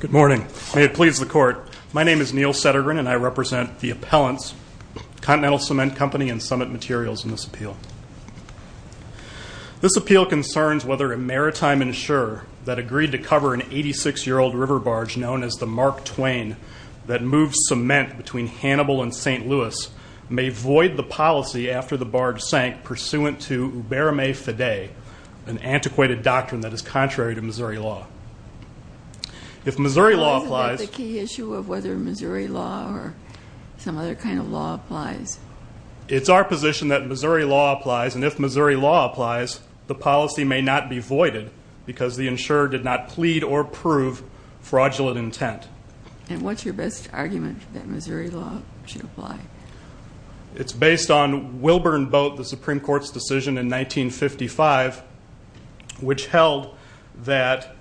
Good morning. May it please the Court. My name is Neil Sedergren, and I represent the appellants, Continental Cement Company and Summit Materials, in this appeal. This appeal concerns whether a maritime insurer that agreed to cover an 86-year-old river barge known as the Mark Twain that moved cement between Hannibal and St. Louis may void the policy after the barge sank pursuant to ubermae fidei, an antiquated doctrine that is contrary to Missouri law. Isn't that the key issue of whether Missouri law or some other kind of law applies? It's our position that Missouri law applies, and if Missouri law applies, the policy may not be voided because the insurer did not plead or prove fraudulent intent. And what's your best argument that Missouri law should apply? It's based on Wilburn Boat, the Supreme Court's decision in 1955, which held that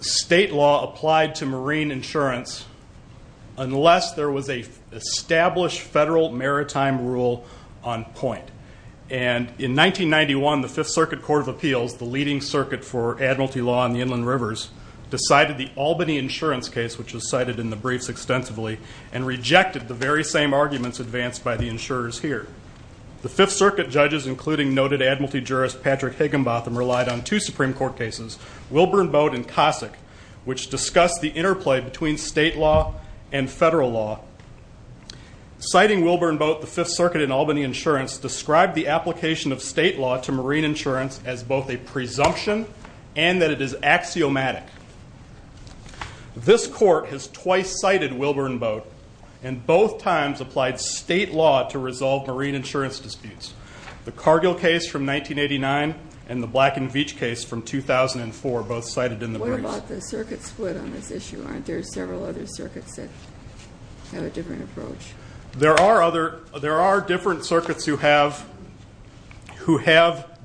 state law applied to marine insurance unless there was an established federal maritime rule on point. And in 1991, the Fifth Circuit Court of Appeals, the leading circuit for admiralty law on the inland rivers, decided the Albany insurance case, which was cited in the briefs extensively, and rejected the very same arguments advanced by the insurers here. The Fifth Circuit judges, including noted admiralty jurist Patrick Higginbotham, relied on two Supreme Court cases, Wilburn Boat and Cossack, which discussed the interplay between state law and federal law. Citing Wilburn Boat, the Fifth Circuit in Albany Insurance described the application of state law to marine insurance as both a presumption and that it is axiomatic. This court has twice cited Wilburn Boat and both times applied state law to resolve marine insurance disputes. The Cargill case from 1989 and the Black and Veatch case from 2004 both cited in the briefs. What about the circuit split on this issue? Aren't there several other circuits that have a different approach? There are different circuits who have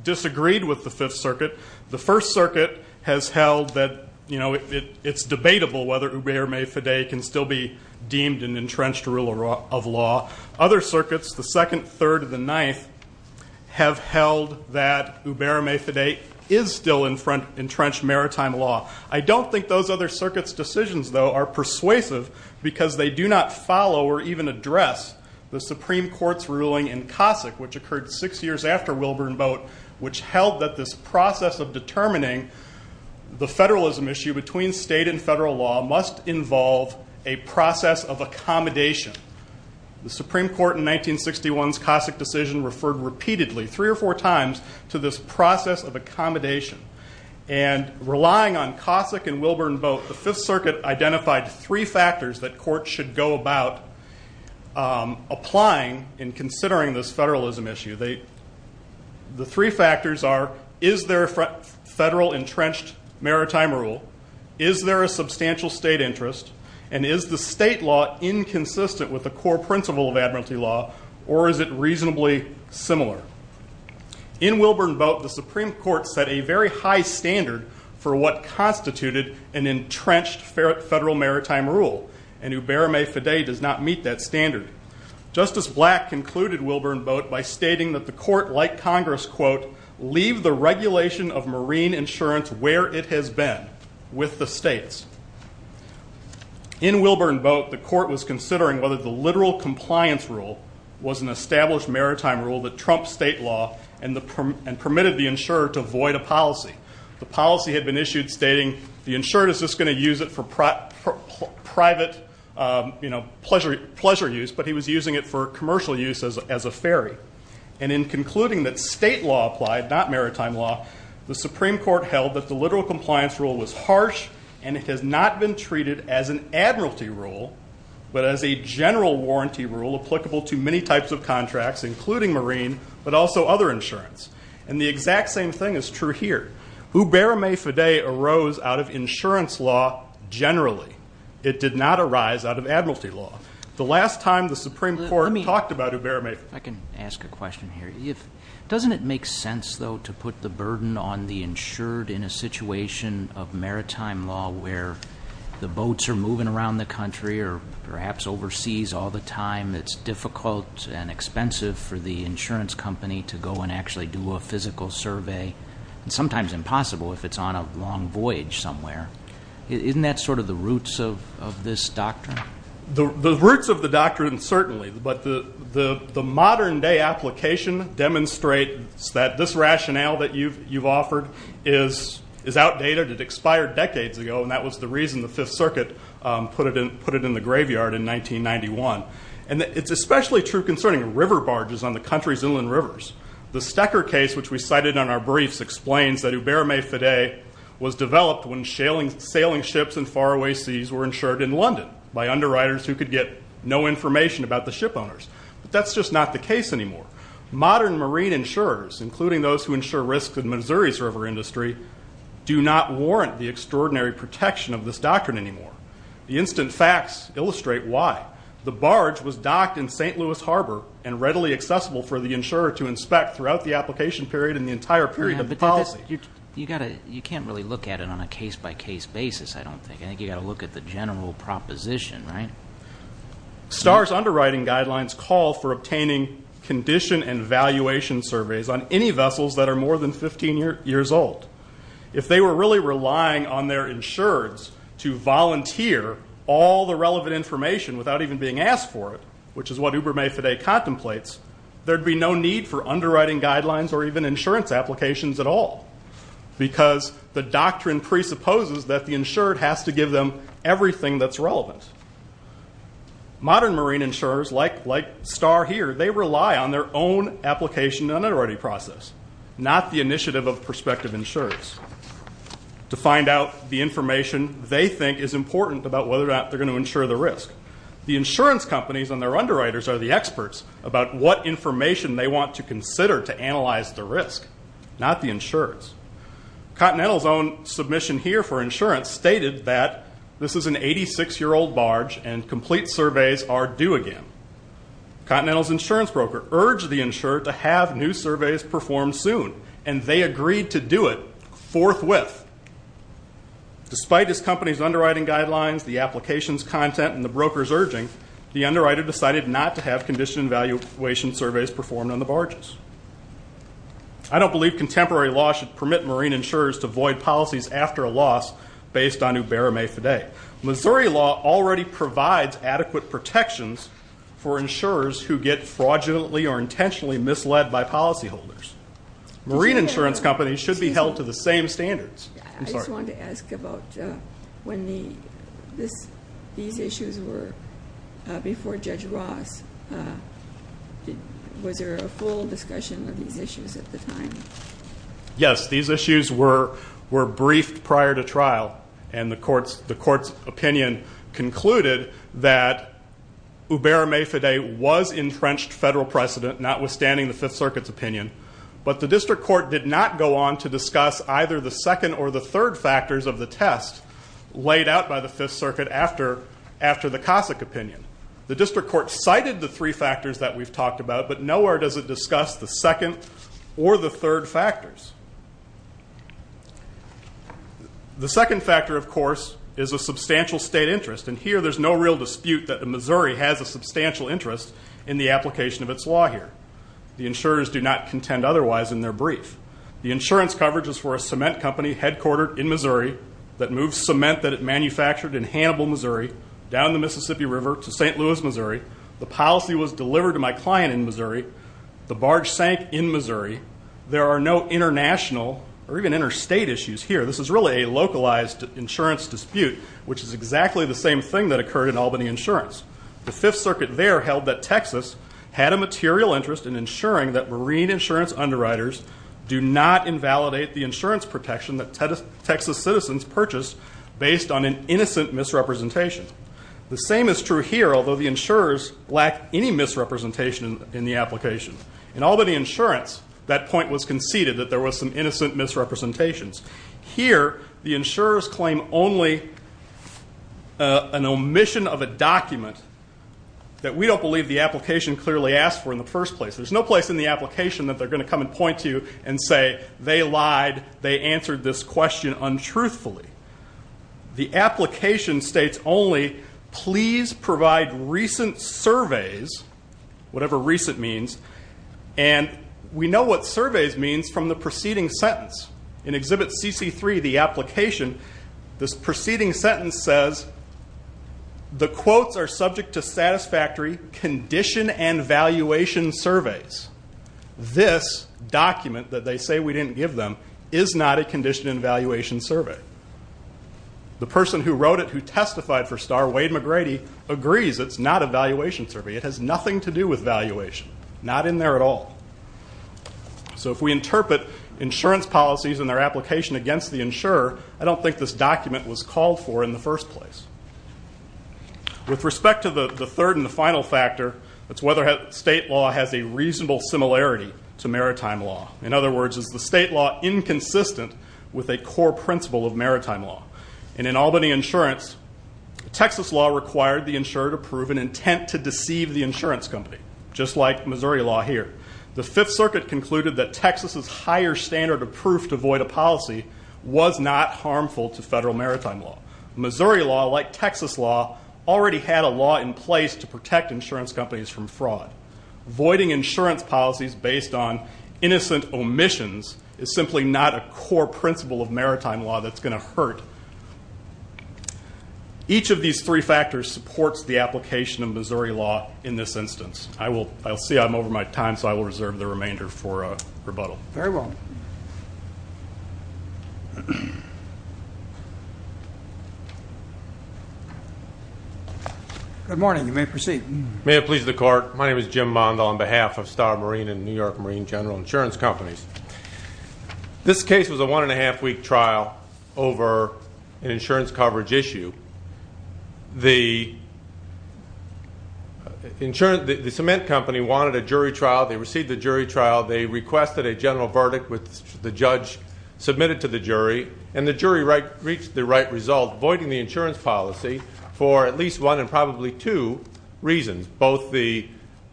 disagreed with the Fifth Circuit. The First Circuit has held that it's debatable whether Hubert May Faday can still be deemed an entrenched rule of law. Other circuits, the Second, Third, and the Ninth, have held that Hubert May Faday is still an entrenched maritime law. I don't think those other circuits' decisions, though, are persuasive because they do not follow or even address the Supreme Court's ruling in Cossack, which occurred six years after Wilburn Boat, which held that this process of determining the federalism issue between state and federal law must involve a process of accommodation. The Supreme Court in 1961's Cossack decision referred repeatedly, three or four times, to this process of accommodation. Relying on Cossack and Wilburn Boat, the Fifth Circuit identified three factors that courts should go about applying in considering this federalism issue. The three factors are, is there a federal entrenched maritime rule, is there a substantial state interest, and is the state law inconsistent with the core principle of admiralty law, or is it reasonably similar? In Wilburn Boat, the Supreme Court set a very high standard for what constituted an entrenched federal maritime rule, and Hubert May Faday does not meet that standard. Justice Black concluded Wilburn Boat by stating that the court, like Congress, quote, leave the regulation of marine insurance where it has been, with the states. In Wilburn Boat, the court was considering whether the literal compliance rule was an established maritime rule that trumped state law and permitted the insurer to void a policy. The policy had been issued stating the insurer is just going to use it for private, you know, pleasure use, but he was using it for commercial use as a ferry. And in concluding that state law applied, not maritime law, the Supreme Court held that the literal compliance rule was harsh and it has not been treated as an admiralty rule, but as a general warranty rule applicable to many types of contracts, including marine, but also other insurance. And the exact same thing is true here. Hubert May Faday arose out of insurance law generally. It did not arise out of admiralty law. The last time the Supreme Court talked about Hubert May Faday. I can ask a question here. Doesn't it make sense, though, to put the burden on the insured in a situation of maritime law where the boats are moving around the country or perhaps overseas all the time? It's difficult and expensive for the insurance company to go and actually do a physical survey, and sometimes impossible if it's on a long voyage somewhere. Isn't that sort of the roots of this doctrine? The roots of the doctrine, certainly. But the modern-day application demonstrates that this rationale that you've offered is outdated. It expired decades ago, and that was the reason the Fifth Circuit put it in the graveyard in 1991. And it's especially true concerning river barges on the country's inland rivers. The Stecker case, which we cited in our briefs, explains that Hubert May Faday was developed when sailing ships in faraway seas were insured in London by underwriters who could get no information about the ship owners. But that's just not the case anymore. Modern marine insurers, including those who insure risks in Missouri's river industry, do not warrant the extraordinary protection of this doctrine anymore. The instant facts illustrate why. The barge was docked in St. Louis Harbor and readily accessible for the insurer to inspect throughout the application period and the entire period of the policy. You can't really look at it on a case-by-case basis, I don't think. I think you've got to look at the general proposition, right? Star's underwriting guidelines call for obtaining condition and valuation surveys on any vessels that are more than 15 years old. If they were really relying on their insurers to volunteer all the relevant information without even being asked for it, which is what Hubert May Faday contemplates, there'd be no need for underwriting guidelines or even insurance applications at all because the doctrine presupposes that the insured has to give them everything that's relevant. Modern marine insurers, like Star here, they rely on their own application and underwriting process, not the initiative of prospective insurers to find out the information they think is important about whether or not they're going to insure the risk. The insurance companies and their underwriters are the experts about what information they want to consider to analyze the risk, not the insurers. Continental's own submission here for insurance stated that this is an 86-year-old barge and complete surveys are due again. Continental's insurance broker urged the insurer to have new surveys performed soon, and they agreed to do it forthwith. Despite this company's underwriting guidelines, the application's content, and the broker's urging, the underwriter decided not to have condition and valuation surveys performed on the barges. I don't believe contemporary law should permit marine insurers to void policies after a loss based on Hubert May Faday. Missouri law already provides adequate protections for insurers who get fraudulently or intentionally misled by policyholders. Marine insurance companies should be held to the same standards. I just wanted to ask about when these issues were before Judge Ross, was there a full discussion of these issues at the time? Yes, these issues were briefed prior to trial, and the court's opinion concluded that Hubert May Faday was entrenched federal precedent, notwithstanding the Fifth Circuit's opinion, but the district court did not go on to discuss either the second or the third factors of the test laid out by the Fifth Circuit after the Cossack opinion. The district court cited the three factors that we've talked about, but nowhere does it discuss the second or the third factors. The second factor, of course, is a substantial state interest, and here there's no real dispute that Missouri has a substantial interest in the application of its law here. The insurers do not contend otherwise in their brief. The insurance coverage is for a cement company headquartered in Missouri that moves cement that it manufactured in Hannibal, Missouri, down the Mississippi River to St. Louis, Missouri. The policy was delivered to my client in Missouri. The barge sank in Missouri. There are no international or even interstate issues here. This is really a localized insurance dispute, which is exactly the same thing that occurred in Albany Insurance. The Fifth Circuit there held that Texas had a material interest in ensuring that marine insurance underwriters do not invalidate the insurance protection that Texas citizens purchase based on an innocent misrepresentation. The same is true here, although the insurers lack any misrepresentation in the application. In Albany Insurance, that point was conceded, that there was some innocent misrepresentations. Here, the insurers claim only an omission of a document that we don't believe the application clearly asked for in the first place. There's no place in the application that they're going to come and point to you and say, they lied, they answered this question untruthfully. The application states only, please provide recent surveys, whatever recent means, and we know what surveys means from the preceding sentence. In Exhibit CC3, the application, this preceding sentence says, the quotes are subject to satisfactory condition and valuation surveys. This document that they say we didn't give them is not a condition and valuation survey. The person who wrote it, who testified for Starr, Wade McGrady, agrees it's not a valuation survey. It has nothing to do with valuation, not in there at all. So if we interpret insurance policies and their application against the insurer, I don't think this document was called for in the first place. With respect to the third and the final factor, it's whether state law has a reasonable similarity to maritime law. In other words, is the state law inconsistent with a core principle of maritime law? And in Albany insurance, Texas law required the insurer to prove an intent to deceive the insurance company, just like Missouri law here. The Fifth Circuit concluded that Texas's higher standard of proof to void a policy was not harmful to federal maritime law. Missouri law, like Texas law, already had a law in place to protect insurance companies from fraud. Voiding insurance policies based on innocent omissions is simply not a core principle of maritime law that's going to hurt. Each of these three factors supports the application of Missouri law in this instance. I will see I'm over my time, so I will reserve the remainder for rebuttal. Very well. Good morning. You may proceed. May it please the Court. My name is Jim Mondal on behalf of Starr Marine and New York Marine General Insurance Companies. This case was a one-and-a-half-week trial over an insurance coverage issue. The cement company wanted a jury trial. They received the jury trial. They requested a general verdict, which the judge submitted to the jury, and the jury reached the right result, voiding the insurance policy for at least one and probably two reasons, both the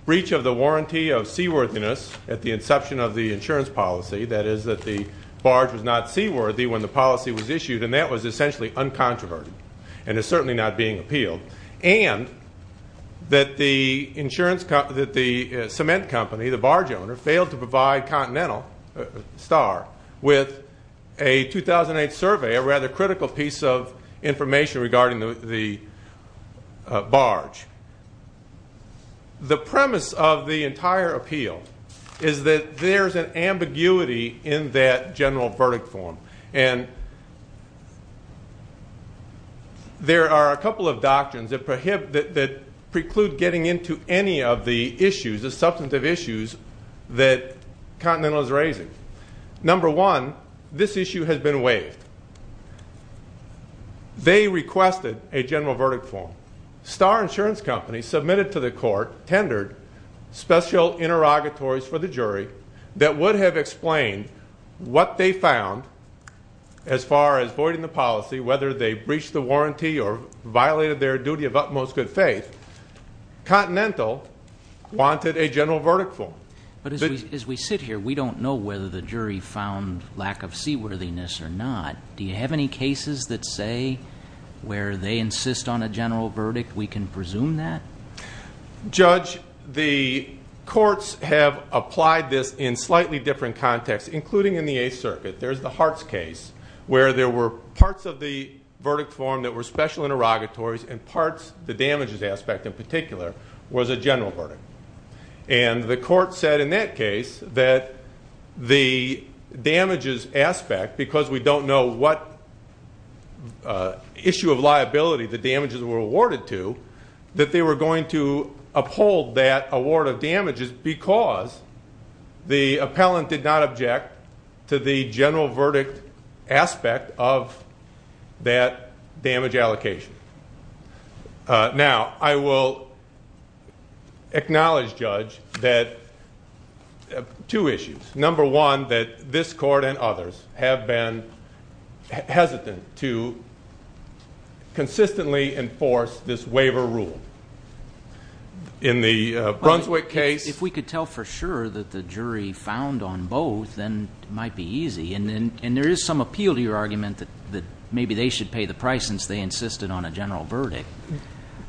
breach of the warranty of seaworthiness at the inception of the insurance policy, that is that the barge was not seaworthy when the policy was issued, and that was essentially uncontroverted and is certainly not being appealed, and that the cement company, the barge owner, failed to provide Continental, Starr, with a 2008 survey, a rather critical piece of information regarding the barge. The premise of the entire appeal is that there is an ambiguity in that general verdict form, and there are a couple of doctrines that preclude getting into any of the issues, the substantive issues that Continental is raising. Number one, this issue has been waived. They requested a general verdict form. Starr Insurance Company submitted to the court, tendered, special interrogatories for the jury that would have explained what they found as far as voiding the policy, whether they breached the warranty or violated their duty of utmost good faith. Continental wanted a general verdict form. But as we sit here, we don't know whether the jury found lack of seaworthiness or not. Do you have any cases that say where they insist on a general verdict we can presume that? Judge, the courts have applied this in slightly different contexts, including in the Eighth Circuit. There's the Hartz case where there were parts of the verdict form that were special interrogatories and parts, the damages aspect in particular, was a general verdict. And the court said in that case that the damages aspect, because we don't know what issue of liability the damages were awarded to, that they were going to uphold that award of damages because the appellant did not object to the general verdict aspect of that damage allocation. Now, I will acknowledge, Judge, that two issues. Number one, that this court and others have been hesitant to consistently enforce this waiver rule. In the Brunswick case. If we could tell for sure that the jury found on both, then it might be easy. And there is some appeal to your argument that maybe they should pay the price since they insisted on a general verdict.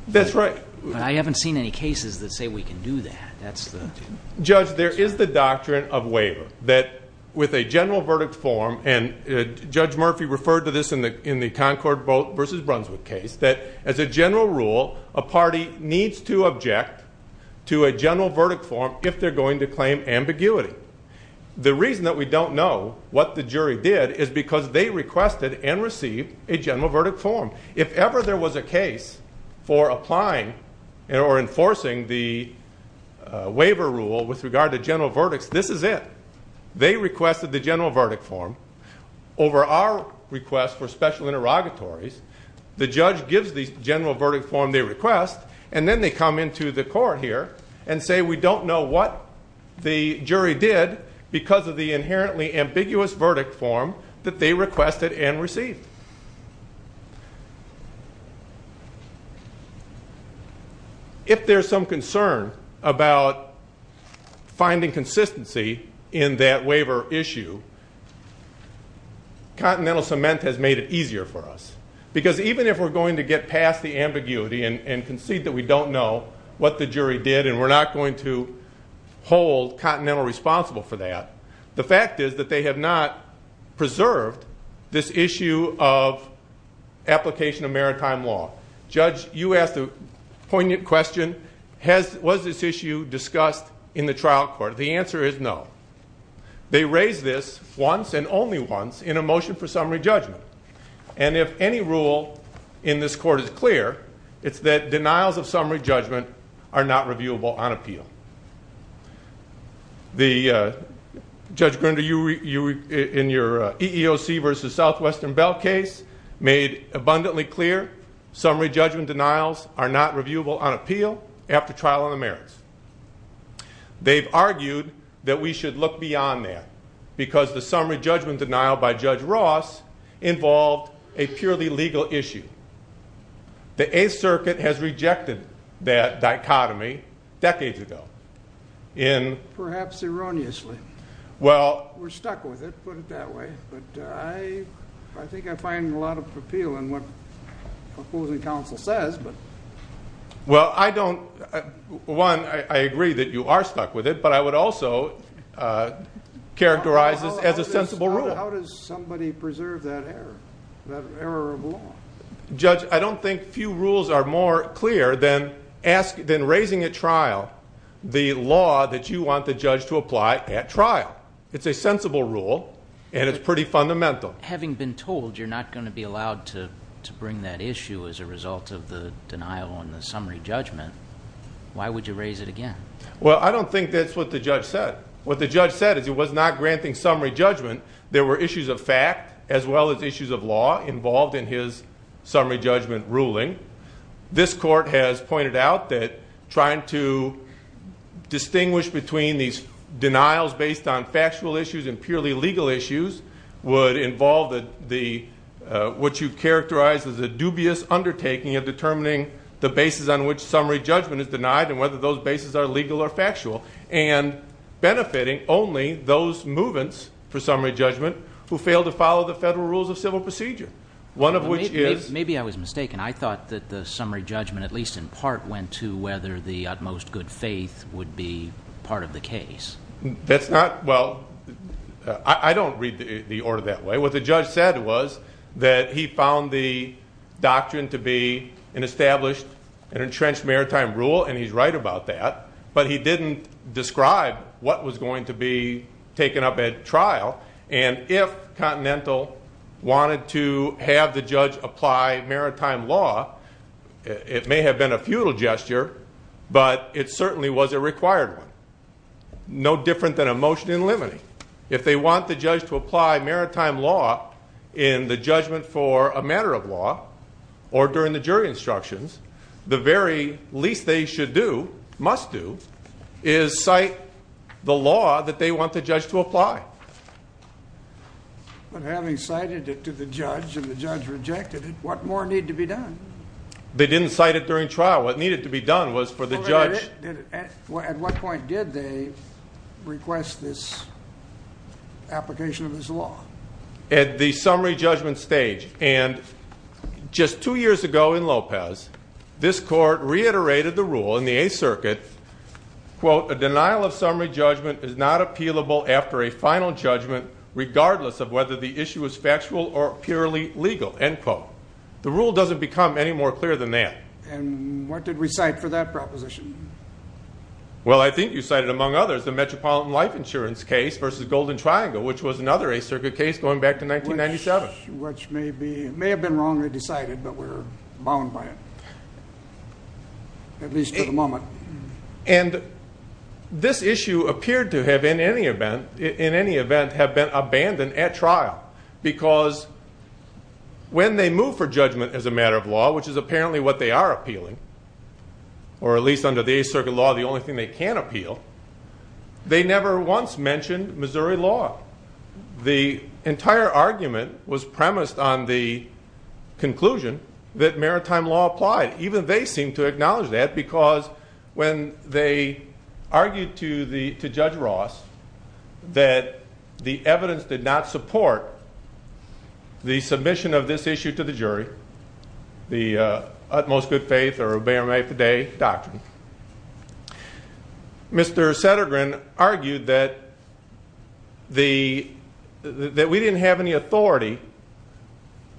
That's right. But I haven't seen any cases that say we can do that. Judge, there is the doctrine of waiver that with a general verdict form, and Judge Murphy referred to this in the Concord v. Brunswick case, that as a general rule, a party needs to object to a general verdict form if they're going to claim ambiguity. The reason that we don't know what the jury did is because they requested and received a general verdict form. If ever there was a case for applying or enforcing the waiver rule with regard to general verdicts, this is it. They requested the general verdict form. Over our request for special interrogatories, the judge gives the general verdict form they request, and then they come into the court here and say we don't know what the jury did because of the inherently ambiguous verdict form that they requested and received. If there's some concern about finding consistency in that waiver issue, Continental Cement has made it easier for us. Because even if we're going to get past the ambiguity and concede that we don't know what the jury did and we're not going to hold Continental responsible for that, the fact is that they have not preserved this issue of application of maritime law. Judge, you asked a poignant question. Was this issue discussed in the trial court? The answer is no. They raised this once and only once in a motion for summary judgment. And if any rule in this court is clear, it's that denials of summary judgment are not reviewable on appeal. Judge Grinder, in your EEOC v. Southwestern Bell case, made abundantly clear summary judgment denials are not reviewable on appeal after trial on the merits. They've argued that we should look beyond that involved a purely legal issue. The Eighth Circuit has rejected that dichotomy decades ago. Perhaps erroneously. We're stuck with it, put it that way. But I think I find a lot of appeal in what the opposing counsel says. Well, I agree that you are stuck with it, but I would also characterize this as a sensible rule. But how does somebody preserve that error, that error of law? Judge, I don't think few rules are more clear than raising at trial the law that you want the judge to apply at trial. It's a sensible rule, and it's pretty fundamental. Having been told you're not going to be allowed to bring that issue as a result of the denial on the summary judgment, why would you raise it again? Well, I don't think that's what the judge said. What the judge said is he was not granting summary judgment. There were issues of fact as well as issues of law involved in his summary judgment ruling. This court has pointed out that trying to distinguish between these denials based on factual issues and purely legal issues would involve what you've characterized as a dubious undertaking of determining the basis on which summary judgment is denied and whether those bases are legal or factual. And benefiting only those movements for summary judgment who fail to follow the federal rules of civil procedure. One of which is- Maybe I was mistaken. I thought that the summary judgment at least in part went to whether the utmost good faith would be part of the case. That's not- well, I don't read the order that way. What the judge said was that he found the doctrine to be an established and entrenched maritime rule, and he's right about that. But he didn't describe what was going to be taken up at trial. And if Continental wanted to have the judge apply maritime law, it may have been a futile gesture, but it certainly was a required one. No different than a motion in limine. If they want the judge to apply maritime law in the judgment for a matter of law or during the jury instructions, the very least they should do, must do, is cite the law that they want the judge to apply. But having cited it to the judge and the judge rejected it, what more needed to be done? They didn't cite it during trial. What needed to be done was for the judge- At what point did they request this application of this law? At the summary judgment stage. And just two years ago in Lopez, this court reiterated the rule in the Eighth Circuit, quote, a denial of summary judgment is not appealable after a final judgment regardless of whether the issue is factual or purely legal, end quote. The rule doesn't become any more clear than that. And what did we cite for that proposition? Well, I think you cited, among others, the Metropolitan Life Insurance case versus Golden Triangle, which was another Eighth Circuit case going back to 1997. Which may have been wrongly decided, but we're bound by it, at least for the moment. And this issue appeared to have, in any event, have been abandoned at trial, because when they move for judgment as a matter of law, which is apparently what they are appealing, or at least under the Eighth Circuit law the only thing they can appeal, they never once mentioned Missouri law. The entire argument was premised on the conclusion that maritime law applied. Even they seem to acknowledge that, because when they argued to Judge Ross that the evidence did not support the submission of this issue to the jury, the utmost good faith or obey or make of the day doctrine, Mr. Sedergren argued that we didn't have any authority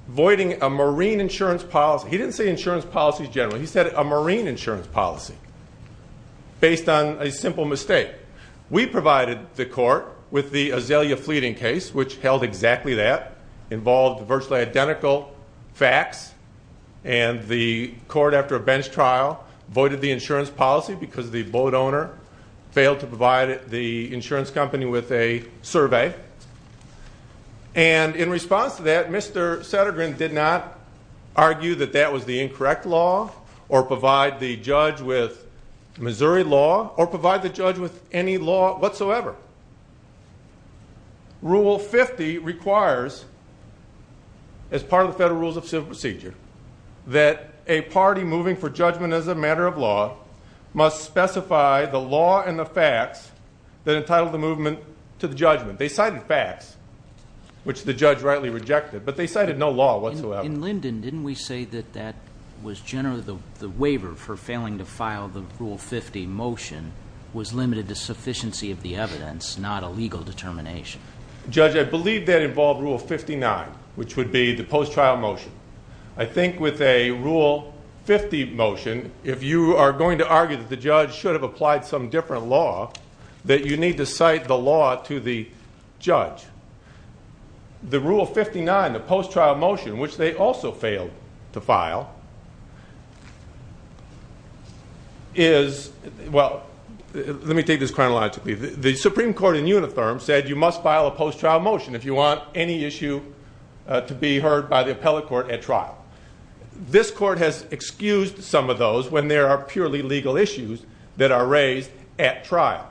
voiding a marine insurance policy. He didn't say insurance policies generally, he said a marine insurance policy, based on a simple mistake. We provided the court with the Azalea Fleeting case, which held exactly that, involved virtually identical facts, and the court, after a bench trial, voided the insurance policy because the boat owner failed to provide the insurance company with a survey. And in response to that, Mr. Sedergren did not argue that that was the incorrect law, or provide the judge with Missouri law, or provide the judge with any law whatsoever. Rule 50 requires, as part of the Federal Rules of Civil Procedure, that a party moving for judgment as a matter of law must specify the law and the facts that entitle the movement to the judgment. They cited facts, which the judge rightly rejected, but they cited no law whatsoever. In Linden, didn't we say that that was generally the waiver for failing to file the Rule 50 motion was limited to sufficiency of the evidence, not a legal determination? Judge, I believe that involved Rule 59, which would be the post-trial motion. I think with a Rule 50 motion, if you are going to argue that the judge should have applied some different law, that you need to cite the law to the judge, the Rule 59, the post-trial motion, which they also failed to file, is, well, let me take this chronologically. The Supreme Court in Unitherm said you must file a post-trial motion if you want any issue to be heard by the appellate court at trial. This court has excused some of those when there are purely legal issues that are raised at trial.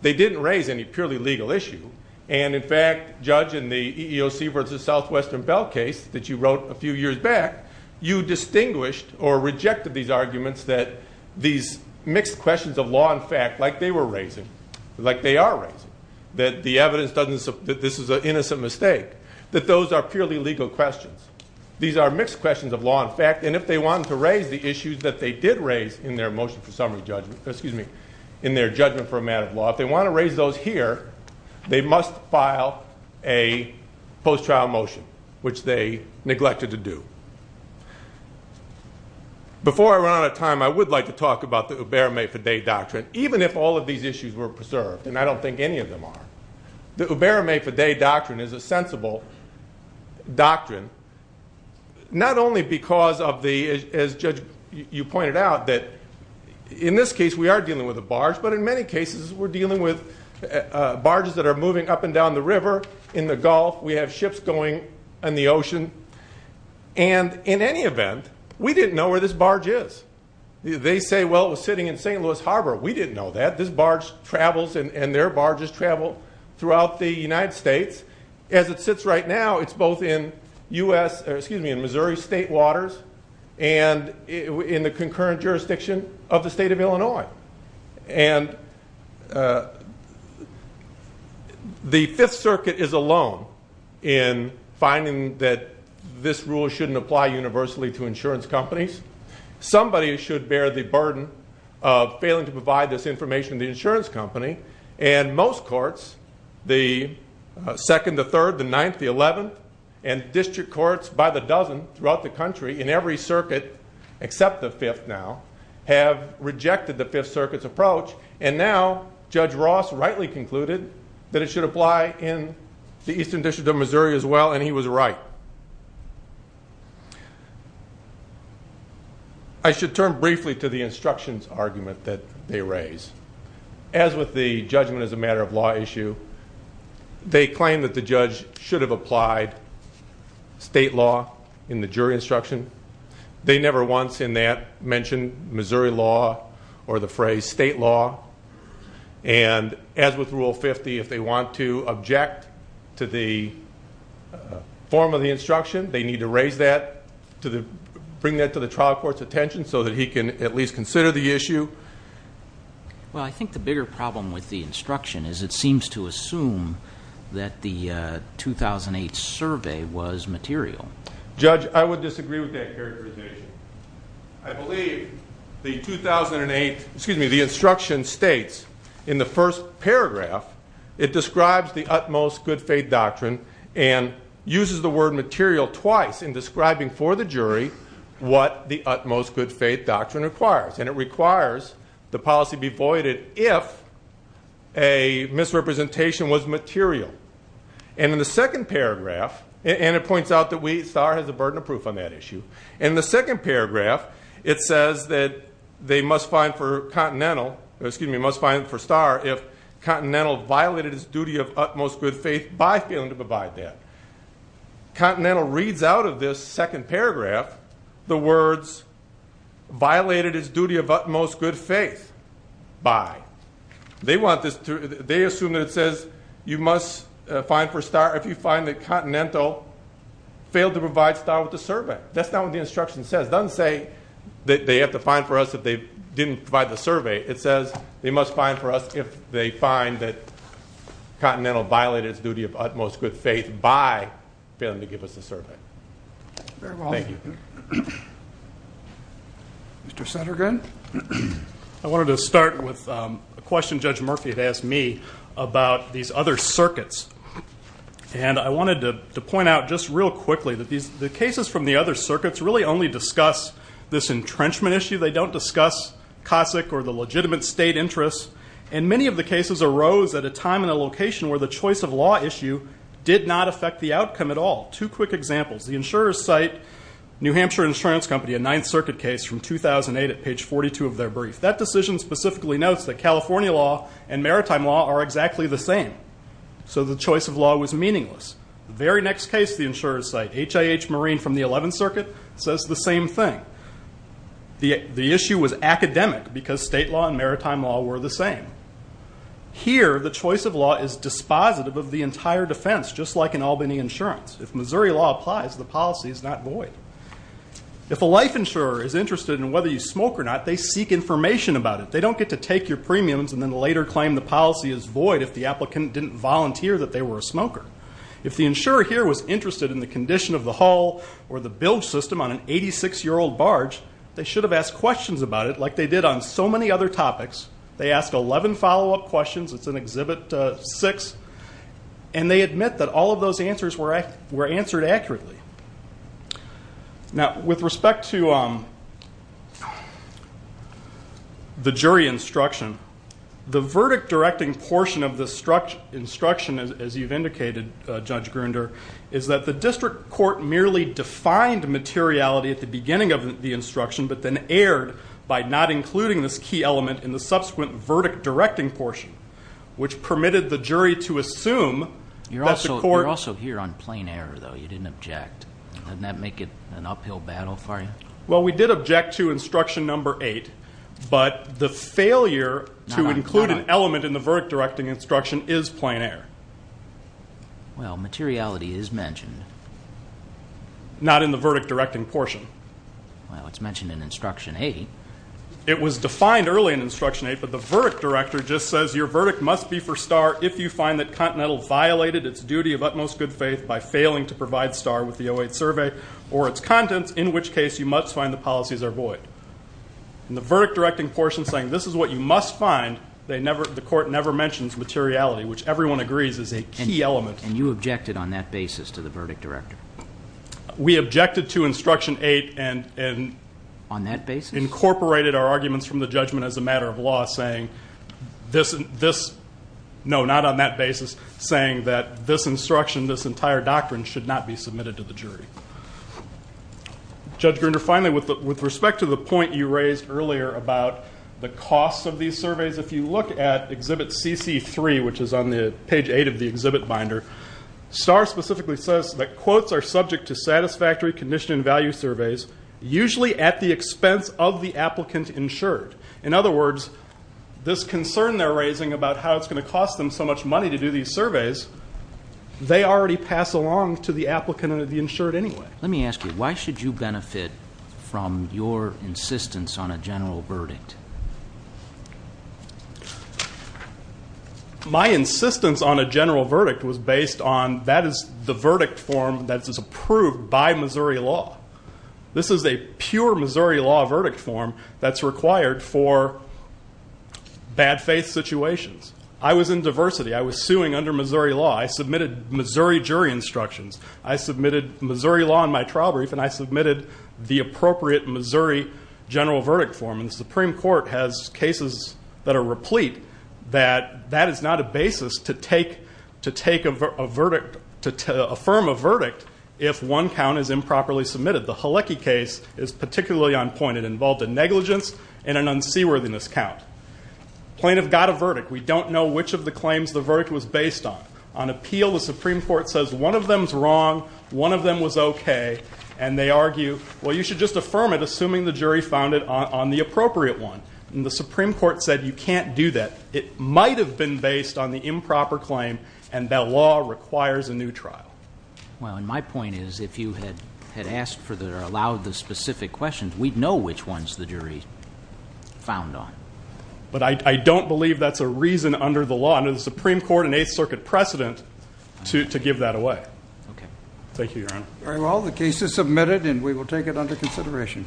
They didn't raise any purely legal issue, and in fact, Judge, in the EEOC versus Southwestern Bell case that you wrote a few years back, you distinguished or rejected these arguments that these mixed questions of law and fact, like they were raising, like they are raising, that the evidence doesn't, that this is an innocent mistake, that those are purely legal questions. These are mixed questions of law and fact, and if they want to raise the issues that they did raise in their motion for summary judgment, excuse me, in their judgment for a matter of law, if they want to raise those here, they must file a post-trial motion, which they neglected to do. Before I run out of time, I would like to talk about the Huberme-Fadde doctrine. Even if all of these issues were preserved, and I don't think any of them are, the Huberme-Fadde doctrine is a sensible doctrine, not only because of the, as Judge, you pointed out, that in this case, we are dealing with a barge, but in many cases, we're dealing with barges that are moving up and down the river, in the Gulf, we have ships going in the ocean, and in any event, we didn't know where this barge is. They say, well, it was sitting in St. Louis Harbor. We didn't know that. This barge travels, and their barges travel throughout the United States. As it sits right now, it's both in Missouri state waters and in the concurrent jurisdiction of the state of Illinois. And the Fifth Circuit is alone in finding that this rule shouldn't apply universally to insurance companies. Somebody should bear the burden of failing to provide this information to the insurance company, and most courts, the Second, the Third, the Ninth, the Eleventh, and district courts by the dozen throughout the country, in every circuit except the Fifth now, have rejected the Fifth Circuit's approach, and now Judge Ross rightly concluded that it should apply in the Eastern District of Missouri as well, and he was right. I should turn briefly to the instructions argument that they raise. As with the judgment as a matter of law issue, they claim that the judge should have applied state law in the jury instruction. They never once in that mentioned Missouri law or the phrase state law, and as with Rule 50, if they want to object to the form of the instruction, they need to raise that to bring that to the trial court's attention so that he can at least consider the issue. Well, I think the bigger problem with the instruction is it seems to assume that the 2008 survey was material. Judge, I would disagree with that characterization. I believe the 2008, excuse me, the instruction states in the first paragraph, it describes the utmost good faith doctrine and uses the word material twice in describing for the jury what the utmost good faith doctrine requires, and it requires the policy be voided if a misrepresentation was material, and in the second paragraph, and it points out that we, SAR has a burden of proof on that issue, in the second paragraph, it says that they must find for Star if Continental violated its duty of utmost good faith by failing to provide that. Continental reads out of this second paragraph the words violated its duty of utmost good faith by. They assume that it says you must find for Star if you find that Continental failed to provide Star with the survey. That's not what the instruction says. It doesn't say that they have to find for us if they didn't provide the survey. It says they must find for us if they find that Continental violated its duty of utmost good faith by failing to give us the survey. Thank you. Mr. Suttergood? I wanted to start with a question Judge Murphy had asked me about these other circuits, and I wanted to point out just real quickly that the cases from the other circuits really only discuss this entrenchment issue. They don't discuss COSIC or the legitimate state interests, and many of the cases arose at a time and a location where the choice of law issue did not affect the outcome at all. Two quick examples. The insurers cite New Hampshire Insurance Company, a Ninth Circuit case from 2008 at page 42 of their brief. That decision specifically notes that California law and maritime law are exactly the same, so the choice of law was meaningless. The very next case the insurers cite, HIH Marine from the Eleventh Circuit, says the same thing. The issue was academic because state law and maritime law were the same. Here, the choice of law is dispositive of the entire defense, just like in Albany Insurance. If Missouri law applies, the policy is not void. If a life insurer is interested in whether you smoke or not, they seek information about it. They don't get to take your premiums and then later claim the policy is void if the applicant didn't volunteer that they were a smoker. If the insurer here was interested in the condition of the hull or the bilge system on an 86-year-old barge, they should have asked questions about it like they did on so many other topics. They asked 11 follow-up questions. It's in Exhibit 6. And they admit that all of those answers were answered accurately. Now, with respect to the jury instruction, the verdict-directing portion of the instruction, as you've indicated, Judge Gruender, is that the district court merely defined materiality at the beginning of the instruction but then erred by not including this key element in the subsequent verdict-directing portion, which permitted the jury to assume that the court- Didn't that make it an uphill battle for you? Well, we did object to instruction number 8, but the failure to include an element in the verdict-directing instruction is plein air. Well, materiality is mentioned. Not in the verdict-directing portion. Well, it's mentioned in instruction 8. It was defined early in instruction 8, but the verdict director just says your verdict must be for Star if you find that Continental violated its duty of utmost good faith by failing to provide Star with the 08 survey or its contents, in which case you must find the policies are void. In the verdict-directing portion, saying this is what you must find, the court never mentions materiality, which everyone agrees is a key element. And you objected on that basis to the verdict director? We objected to instruction 8 and- On that basis? Incorporated our arguments from the judgment as a matter of law, saying this- should not be submitted to the jury. Judge Grinder, finally, with respect to the point you raised earlier about the cost of these surveys, if you look at Exhibit CC3, which is on page 8 of the exhibit binder, Star specifically says that quotes are subject to satisfactory condition and value surveys, usually at the expense of the applicant insured. In other words, this concern they're raising about how it's going to cost them so much money to do these surveys, they already pass along to the applicant or the insured anyway. Let me ask you, why should you benefit from your insistence on a general verdict? My insistence on a general verdict was based on that is the verdict form that is approved by Missouri law. This is a pure Missouri law verdict form that's required for bad faith situations. I was in diversity. I was suing under Missouri law. I submitted Missouri jury instructions. I submitted Missouri law in my trial brief, and I submitted the appropriate Missouri general verdict form. And the Supreme Court has cases that are replete that that is not a basis to take a verdict- to affirm a verdict if one count is improperly submitted. The Halecki case is particularly on point. It involved a negligence and an unseaworthiness count. Plaintiff got a verdict. We don't know which of the claims the verdict was based on. On appeal, the Supreme Court says one of them's wrong, one of them was okay, and they argue, well, you should just affirm it assuming the jury found it on the appropriate one. And the Supreme Court said you can't do that. It might have been based on the improper claim, and that law requires a new trial. Well, and my point is if you had asked for or allowed the specific questions, we'd know which ones the jury found on. But I don't believe that's a reason under the law, under the Supreme Court and Eighth Circuit precedent, to give that away. Thank you, Your Honor. All right, well, the case is submitted, and we will take it under consideration. Thank you.